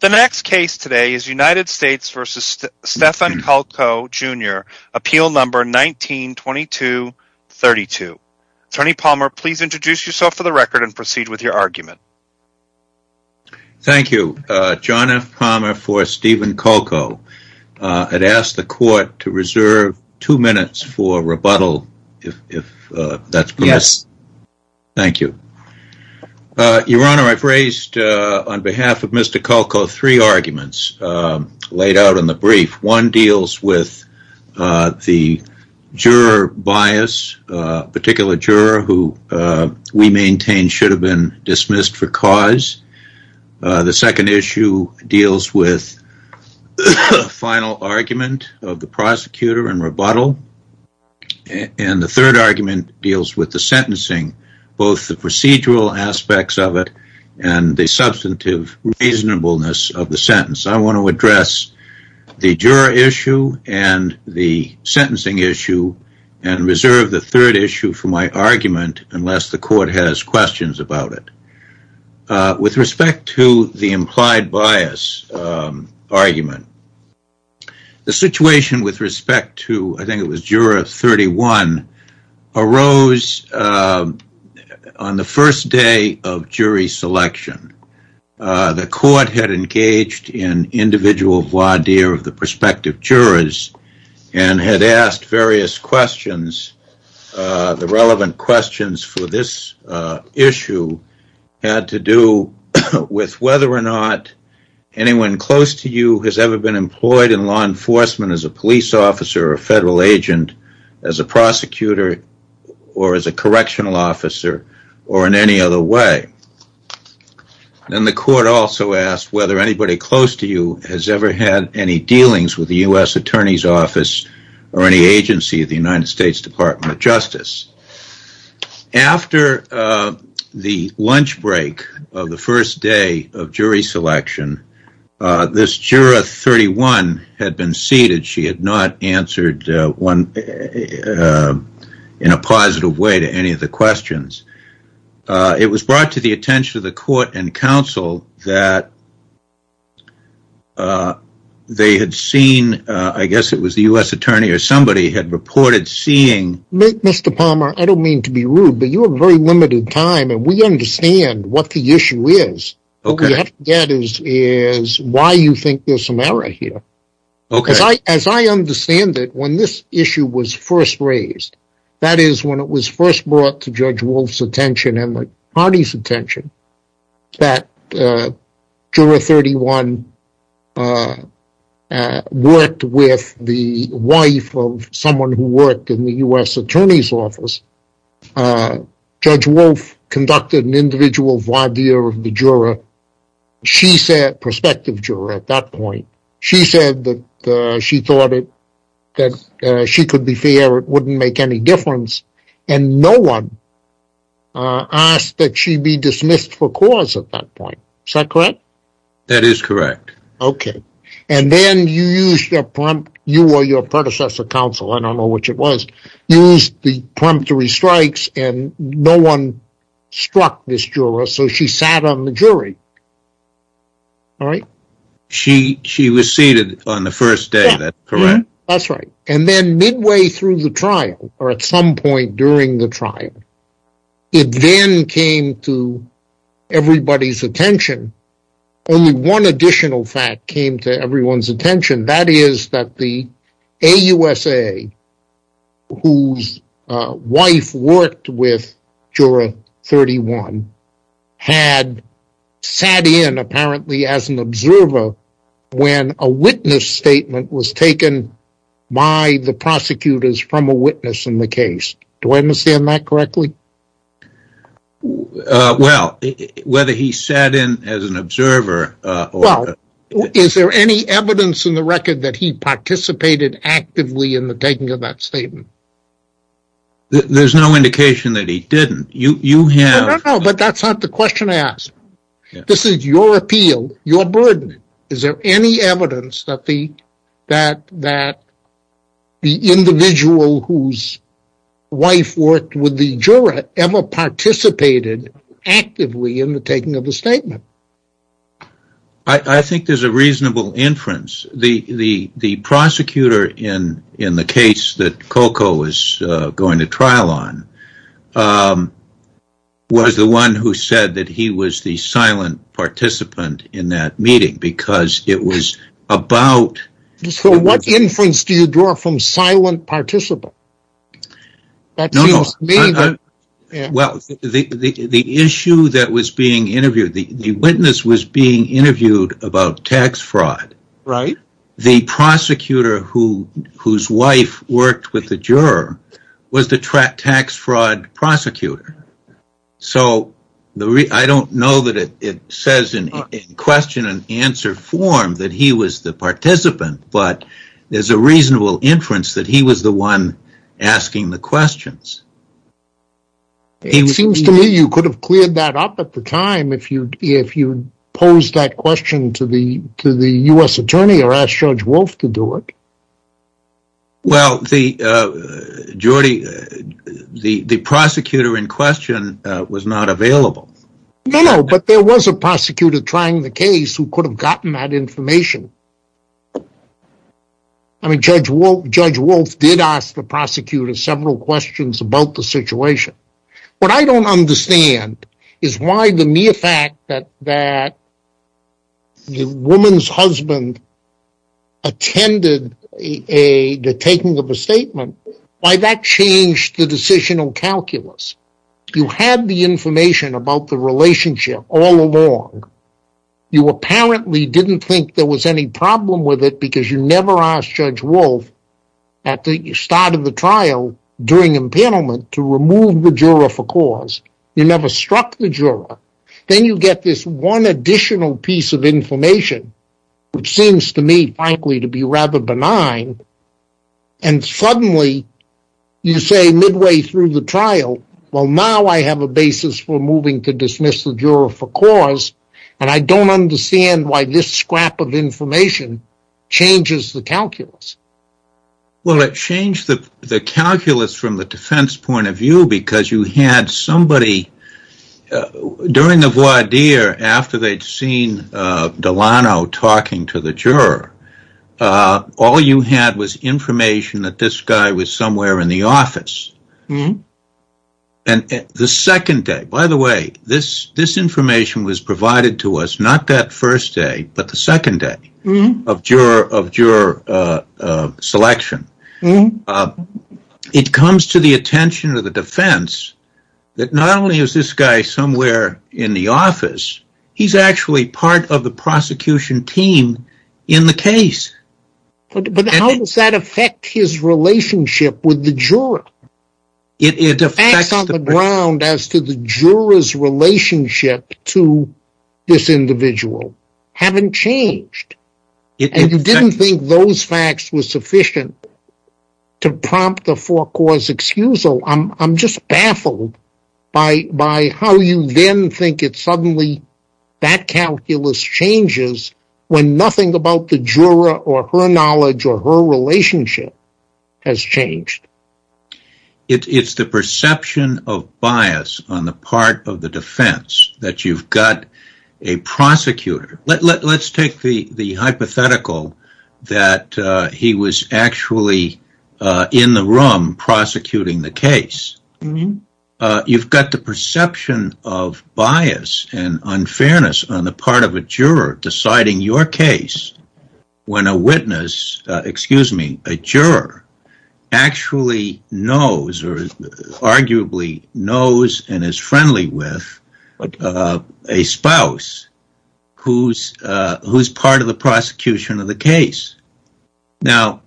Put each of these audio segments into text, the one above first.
The next case today is United States v. Stephen Kuljko, Jr. Appeal Number 19-22-32. Attorney Palmer, please introduce yourself for the record and proceed with your argument. Thank you. John F. Palmer for Stephen Kuljko. I'd ask the court to reserve two minutes for rebuttal, if that's permissible. Yes. Thank you. Your Honor, I've raised on behalf of Mr. Kuljko three arguments laid out in the brief. One deals with the juror bias, a particular juror who we maintain should have been dismissed for cause. The second issue deals with the final argument of the prosecutor in rebuttal. And the third argument deals with the sentencing, both the procedural aspects of it and the substantive reasonableness of the sentence. I want to address the juror issue and the sentencing issue and reserve the third issue for my argument unless the court has questions about it. With respect to the implied bias argument, the situation with respect to, I think it was juror 31, arose on the first day of jury selection. The court had engaged in individual voir dire of the prospective jurors and had asked various questions. The relevant questions for this issue had to do with whether or not anyone close to you has ever been employed in law enforcement as a police officer or federal agent, as a prosecutor or as a correctional officer or in any other way. And the court also asked whether anybody close to you has ever had any dealings with the U.S. Attorney's Office or any agency of the United States Department of Justice. After the lunch break of the first day of jury selection, this juror 31 had been seated. She had not answered in a positive way to any of the questions. It was brought to the attention of the court and counsel that they had seen, I guess it was the U.S. Attorney or somebody had reported seeing... Mr. Palmer, I don't mean to be rude, but you have a very limited time and we understand what the issue is. What we have to get is why you think there's some error here. As I understand it, when this issue was first raised, that is when it was first brought to Judge Wolf's attention and the party's attention, that juror 31 worked with the wife of someone who worked in the U.S. Attorney's Office. Judge Wolf conducted an individual voir dire of the juror. She said, prospective juror at that point, she said that she thought that she could be fair, it wouldn't make any difference, and no one asked that she be dismissed for cause at that point. Is that correct? That is correct. Okay. And then you used your predecessor counsel, I don't know which it was, used the prompt to restrikes and no one struck this juror, so she sat on the jury. She was seated on the first day, correct? That's right. And then midway through the trial, or at some point during the trial, it then came to everybody's attention. Only one additional fact came to everyone's attention. That is that the AUSA, whose wife worked with juror 31, had sat in apparently as an observer when a witness statement was taken by the prosecutors from a witness in the case. Do I understand that correctly? Well, whether he sat in as an observer... Well, is there any evidence in the record that he participated actively in the taking of that statement? There's no indication that he didn't. No, no, no, but that's not the question I asked. This is your appeal, your burden. Is there any evidence that the individual whose wife worked with the juror ever participated actively in the taking of the statement? I think there's a reasonable inference. The prosecutor in the case that Coco was going to trial on was the one who said that he was the silent participant in that meeting because it was about... So what inference do you draw from silent participant? Well, the issue that was being interviewed, the witness was being interviewed about tax fraud. The prosecutor whose wife worked with the juror was the tax fraud prosecutor. So I don't know that it says in question and answer form that he was the participant, but there's a reasonable inference that he was the one asking the questions. It seems to me you could have cleared that up at the time if you posed that question to the U.S. attorney or asked Judge Wolf to do it. Well, the prosecutor in question was not available. No, no, but there was a prosecutor trying the case who could have gotten that information. I mean, Judge Wolf did ask the prosecutor several questions about the situation. What I don't understand is why the mere fact that the woman's husband attended the taking of the statement, why that changed the decisional calculus. You had the information about the relationship all along. You apparently didn't think there was any problem with it because you never asked Judge Wolf at the start of the trial during impanelment to remove the juror for cause. You never struck the juror. Then you get this one additional piece of information, which seems to me, frankly, to be rather benign. Suddenly, you say midway through the trial, well, now I have a basis for moving to dismiss the juror for cause, and I don't understand why this scrap of information changes the calculus. Well, it changed the calculus from the defense point of view because you had somebody during the voir dire after they'd seen Delano talking to the juror. All you had was information that this guy was somewhere in the office. By the way, this information was provided to us not that first day, but the second day of juror selection. It comes to the attention of the defense that not only is this guy somewhere in the office, he's actually part of the prosecution team in the case. But how does that affect his relationship with the juror? The facts on the ground as to the juror's relationship to this individual haven't changed. You didn't think those facts were sufficient to prompt a forecourse excusal. I'm just baffled by how you then think it suddenly, that calculus changes when nothing about the juror or her knowledge or her relationship has changed. It's the perception of bias on the part of the defense that you've got a prosecutor. Let's take the hypothetical that he was actually in the room prosecuting the case. You've got the perception of bias and unfairness on the part of a juror deciding your case when a juror actually knows and is friendly with a spouse who's part of the prosecution of the case. Now,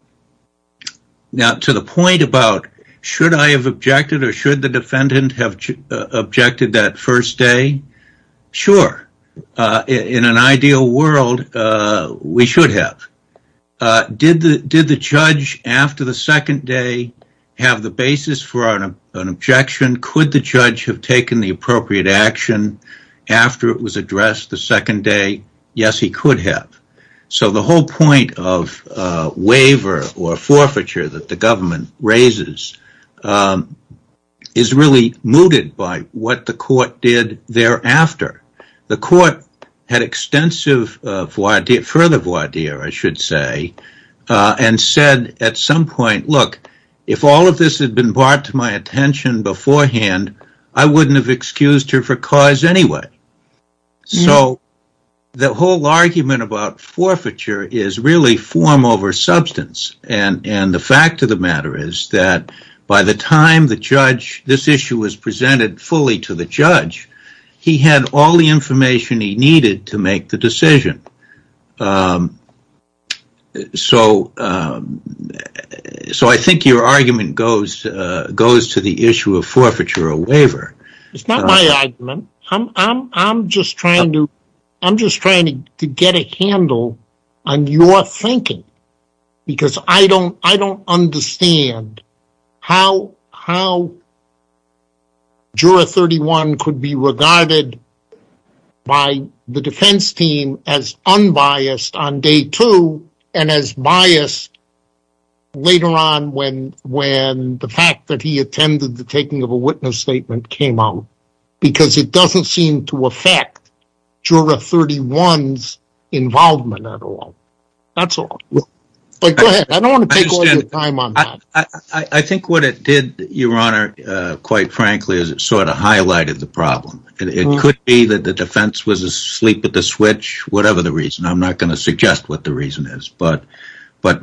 to the point about should I have objected or should the defendant have objected that first day, sure. In an ideal world, we should have. Did the judge after the second day have the basis for an objection? Could the judge have taken the appropriate action after it was addressed the second day? Yes, he could have. The whole point of waiver or forfeiture that the government raises is really mooted by what the court did thereafter. The court had extensive further voir dire and said at some point, look, if all of this had been brought to my attention beforehand, I wouldn't have excused her for cause anyway. So the whole argument about forfeiture is really form over substance and the fact of the matter is that by the time this issue was presented fully to the judge, he had all the information he needed to make the decision. So I think your argument goes to the issue of forfeiture or waiver. It's not my argument. I'm just trying to get a handle on your thinking because I don't understand how Juror 31 could be regarded by the defense team as unbiased on day two and as biased later on when the fact that he attended the taking of a witness statement came up. Because it doesn't seem to affect Juror 31's involvement at all. That's all. I think what it did, your honor, quite frankly, is it sort of highlighted the problem. It could be that the defense was asleep at the switch, whatever the reason. I'm not going to suggest what the reason is. But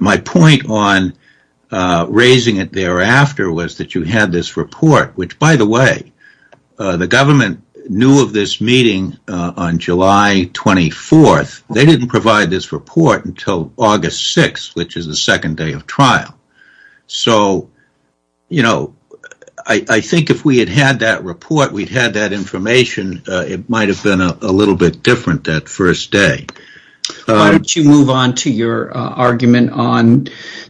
my point on raising it thereafter was that you had this report, which by the way, the government knew of this meeting on July 24th. They didn't provide this report until August 6th, which is the second day of trial. So I think if we had had that report, we'd had that information, it might have been a little bit different that first day. Why don't you move on to your argument on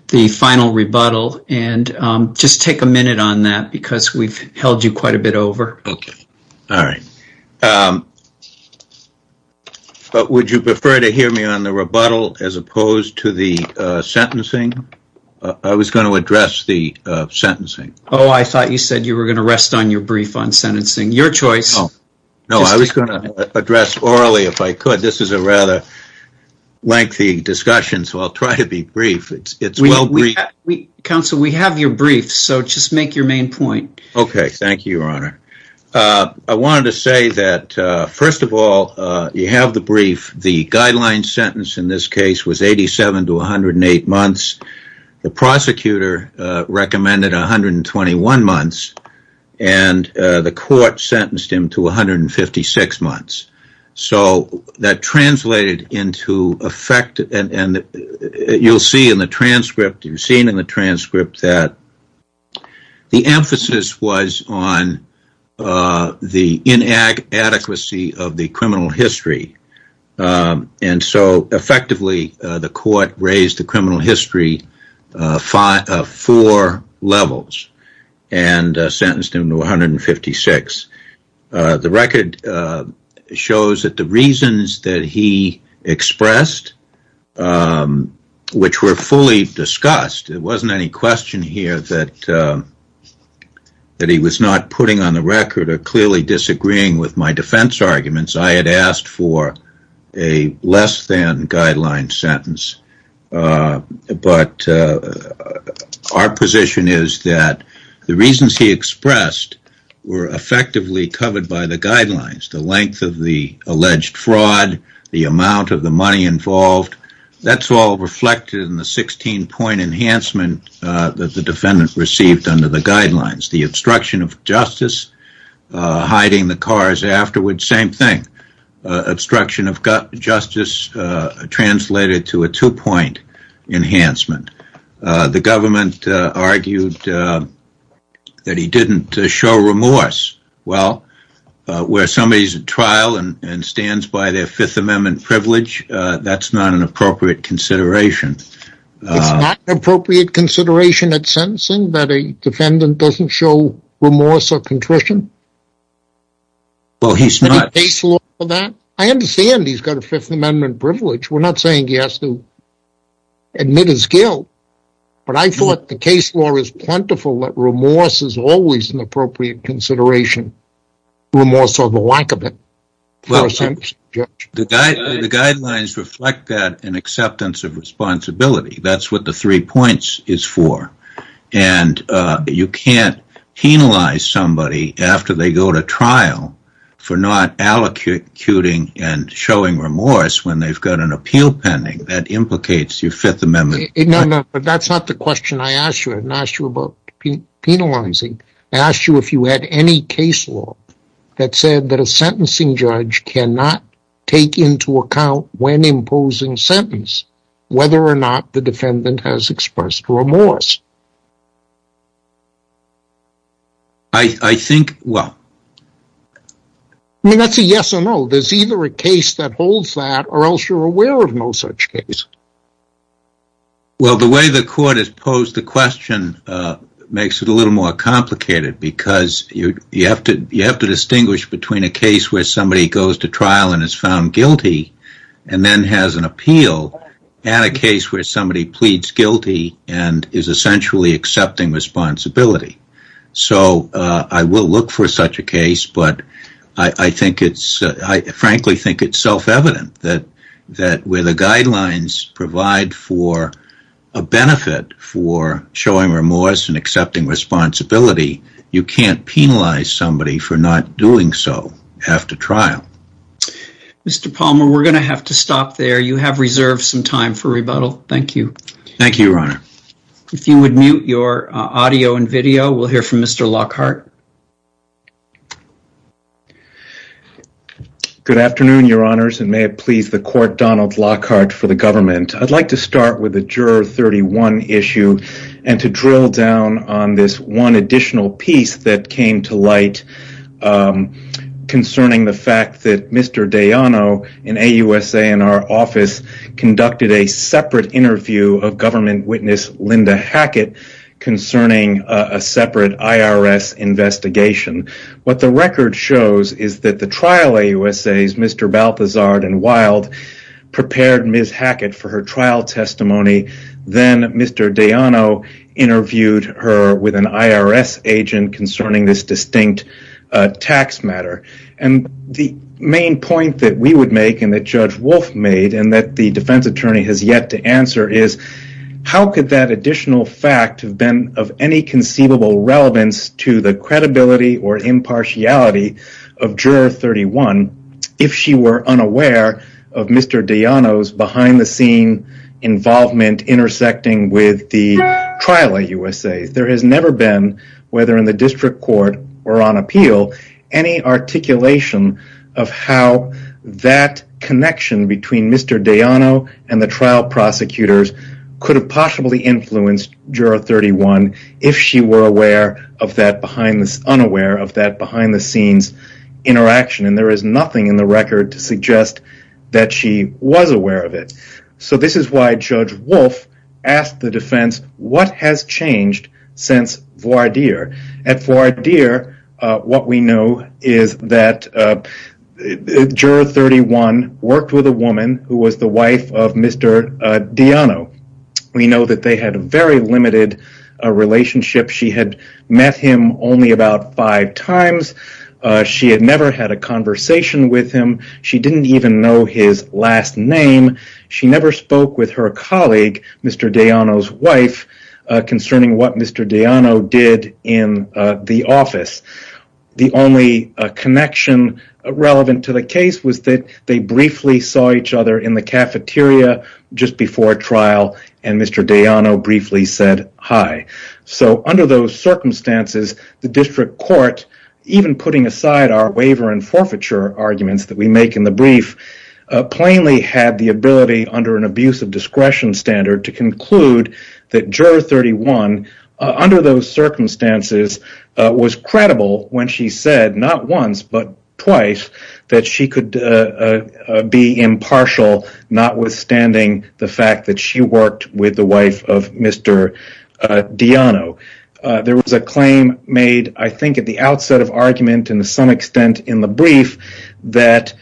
the final rebuttal and just take a minute on that because we've held you quite a bit over. Okay, all right. Would you prefer to hear me on the rebuttal as opposed to the sentencing? I was going to address the sentencing. Oh, I thought you said you were going to rest on your brief on sentencing. Your choice. No, I was going to address orally if I could. This is a lengthy discussion, so I'll try to be brief. Counsel, we have your brief, so just make your main point. Okay, thank you, Your Honor. I wanted to say that first of all, you have the brief. The guideline sentence in this case was 87 to 108 months. The prosecutor recommended 121 months, and the court sentenced him to 156 months. You'll see in the transcript that the emphasis was on the inadequacy of the criminal history. Effectively, the court raised the criminal history four levels and sentenced him to 156. The record shows that the reasons that he expressed, which were fully discussed. It wasn't any question here that he was not putting on the record or clearly disagreeing with my defense arguments. I had asked for a less than guideline sentence. Our position is that the reasons he expressed were effectively covered by the guidelines. The length of the alleged fraud, the amount of the money involved. That's all reflected in the 16-point enhancement that the defendant received under the guidelines. The obstruction of justice, hiding the cars afterwards, same thing. The obstruction of justice translated to a two-point enhancement. The government argued that he didn't show remorse. Well, where somebody's in trial and stands by their Fifth Amendment privilege, that's not an appropriate consideration. It's not an appropriate consideration at sentencing that a defendant doesn't show remorse or contrition? Any case law for that? I understand he's got a Fifth Amendment privilege. We're not saying he has to admit his guilt, but I thought the case law is plentiful that remorse is always an appropriate consideration. Remorse or the lack of it. The guidelines reflect that in acceptance of responsibility. That's what the three points is for. You can't penalize somebody after they go to trial for not allocuting and showing remorse when they've got an appeal pending. That implicates your Fifth Amendment privilege. That's not the question I asked you. I didn't ask you about penalizing. I asked you if you had any case law that said that a sentencing judge cannot take into account when imposing sentence whether or not the defendant has expressed remorse. I think, well. I mean, that's a yes or no. There's either a case that holds that or else you're aware of no such case. Well, the way the court has posed the question makes it a little more complicated because you have to distinguish between a case where somebody goes to trial and is found guilty and then has an appeal and a case where somebody pleads guilty and is essentially accepting responsibility. So I will look for such a case, but I frankly think it's self-evident that where the guidelines provide for a benefit for showing remorse and accepting responsibility, you can't penalize somebody for not doing so after trial. Mr. Palmer, we're going to have to stop there. You have reserved some time for rebuttal. Thank you. Thank you, Your Honor. If you would mute your audio and video, we'll hear from Mr. Lockhart. Good afternoon, Your Honors, and may it please the court, Donald Lockhart for the government. I'd like to start with the Juror 31 issue and to drill down on this one additional piece that came to light concerning the fact that Mr. Dayano in AUSA and our office conducted a separate interview of government witness Linda Hackett concerning a separate IRS investigation. What the record shows is that the trial AUSAs, Mr. Balthazard and Wild, prepared Ms. Hackett for her trial testimony. Then Mr. Dayano interviewed her with an IRS agent concerning this distinct tax matter. The main point that we would make and that Judge Wolf made and that the defense attorney has yet to answer is how could that additional fact have been of any conceivable relevance to the credibility or impartiality of Juror 31 if she were unaware of Mr. Dayano's behind-the-scene involvement intersecting with the trial AUSA? There has never been, whether in the district court or on appeal, any articulation of how that connection between Mr. Dayano and the trial prosecutors could have possibly influenced Juror 31 if she were unaware of that behind-the-scenes interaction. There is nothing in the record to suggest that she was aware of it. This is why Judge Wolf asked the defense, what has changed since voir dire? At voir dire, what we know is that Juror 31 worked with a woman who was the wife of Mr. Dayano. We know that they had a very limited relationship. She had met him only about five times. She had never had a conversation with him. She didn't even know his last name. She never spoke with her colleague, Mr. Dayano's wife, concerning what Mr. Dayano did in the office. The only connection relevant to the case was that they briefly saw each other in the cafeteria just before trial and Mr. Dayano briefly said hi. Under those circumstances, the district court, even putting aside our waiver and forfeiture arguments that we make in the brief, plainly had the ability under an abuse of discretion standard to conclude that Juror 31, under those circumstances, was credible when she said not once but twice that she could be impartial, notwithstanding the fact that she worked with the wife of Mr. Dayano. There was a claim made, I think at the outset of argument and to some extent in the brief, that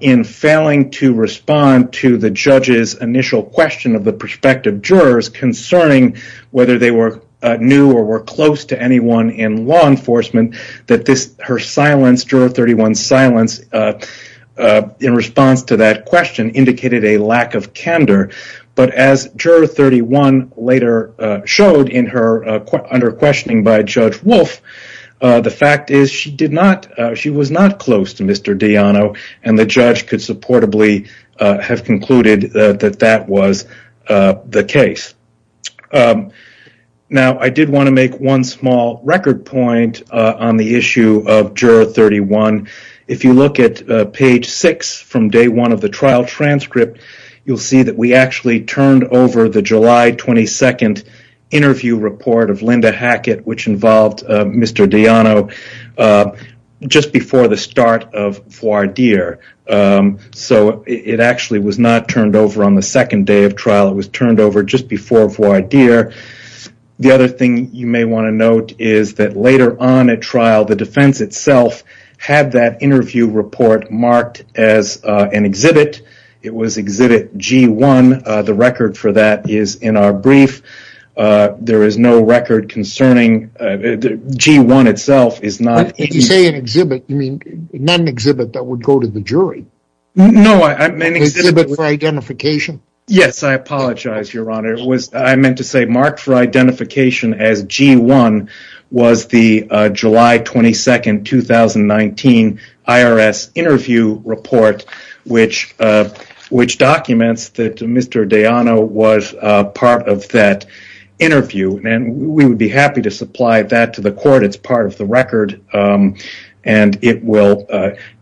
in failing to respond to the judge's initial question of the prospective jurors concerning whether they were new or were close to anyone in law enforcement, that her silence, Juror 31's silence, in response to that question, indicated a lack of candor. As Juror 31 later showed in her under-questioning by Judge Wolf, the fact is she was not close to Mr. Dayano and the judge could supportably have concluded that that was the case. Now, I did want to make one small record point on the issue of Juror 31. The other thing you may want to note is that later on at trial, the defense itself had that interview report marked as an exhibit. It was Exhibit G1. The record for that is in our brief. There is no record concerning G1 itself. If you say an exhibit, you mean not an exhibit that would go to the jury? An exhibit for identification? It will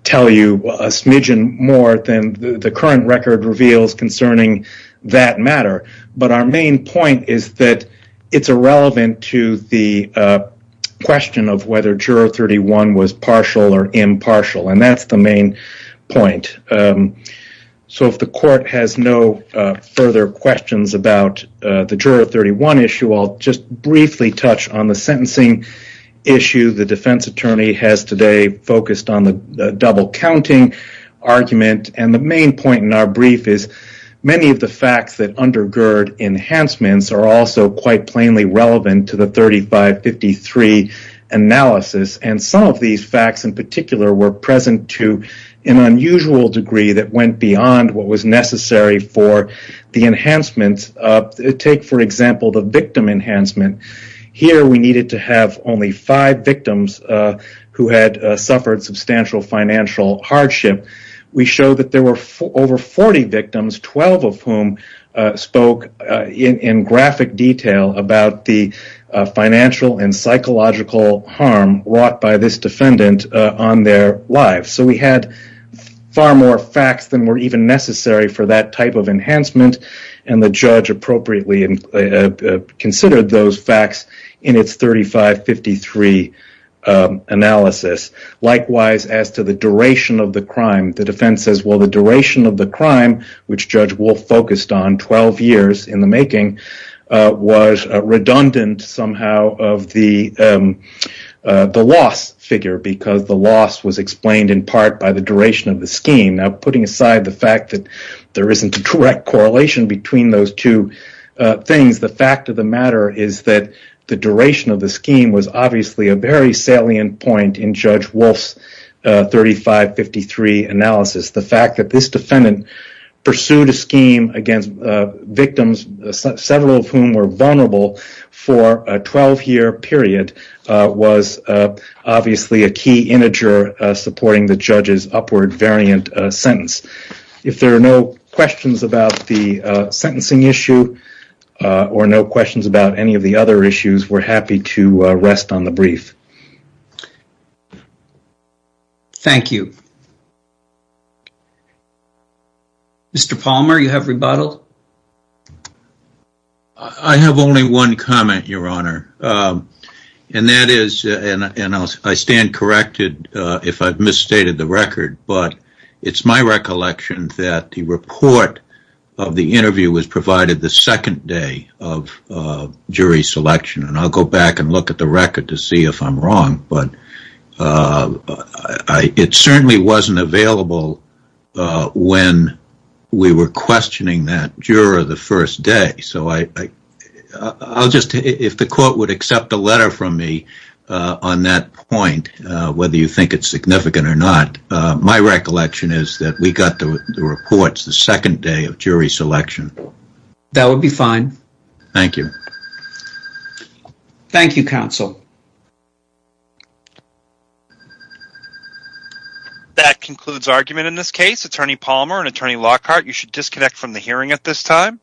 tell you a smidgen more than the current record reveals concerning that matter. Our main point is that it's irrelevant to the question of whether Juror 31 was partial or impartial. That's the main point. If the court has no further questions about the Juror 31 issue, I'll just briefly touch on the sentencing issue. The defense attorney has today focused on the double-counting argument. The main point in our brief is many of the facts that undergird enhancements are also quite plainly relevant to the 3553 analysis. Some of these facts, in particular, were present to an unusual degree that went beyond what was necessary for the enhancements. Take, for example, the victim enhancement. Here, we needed to have only five victims who had suffered substantial financial hardship. We showed that there were over 40 victims, 12 of whom spoke in graphic detail about the financial and psychological harm wrought by this defendant on their lives. We had far more facts than were even necessary for that type of enhancement, and the judge appropriately considered those facts in its 3553 analysis. Likewise, as to the duration of the crime, the defense says the duration of the crime, which Judge Wolf focused on 12 years in the making, was redundant somehow of the loss figure because the loss was explained in part by the duration of the scheme. Putting aside the fact that there isn't a direct correlation between those two things, the fact of the matter is that the duration of the scheme was obviously a very salient point in Judge Wolf's 3553 analysis. The fact that this defendant pursued a scheme against victims, several of whom were vulnerable for a 12-year period, was obviously a key integer supporting the judge's upward variant sentence. If there are no questions about the sentencing issue or no questions about any of the other issues, we're happy to rest on the brief. Thank you. Mr. Palmer, you have rebuttal. I have only one comment, Your Honor, and that is, and I stand corrected if I've misstated the record, but it's my recollection that the report of the interview was provided the second day of jury selection, and I'll go back and look at the record to see if I'm wrong, but it certainly wasn't available when we were questioning that juror the first day. If the court would accept a letter from me on that point, whether you think it's significant or not, my recollection is that we got the reports the second day of jury selection. That would be fine. Thank you. Thank you, counsel. That concludes argument in this case. Attorney Palmer and Attorney Lockhart, you should disconnect from the hearing at this time.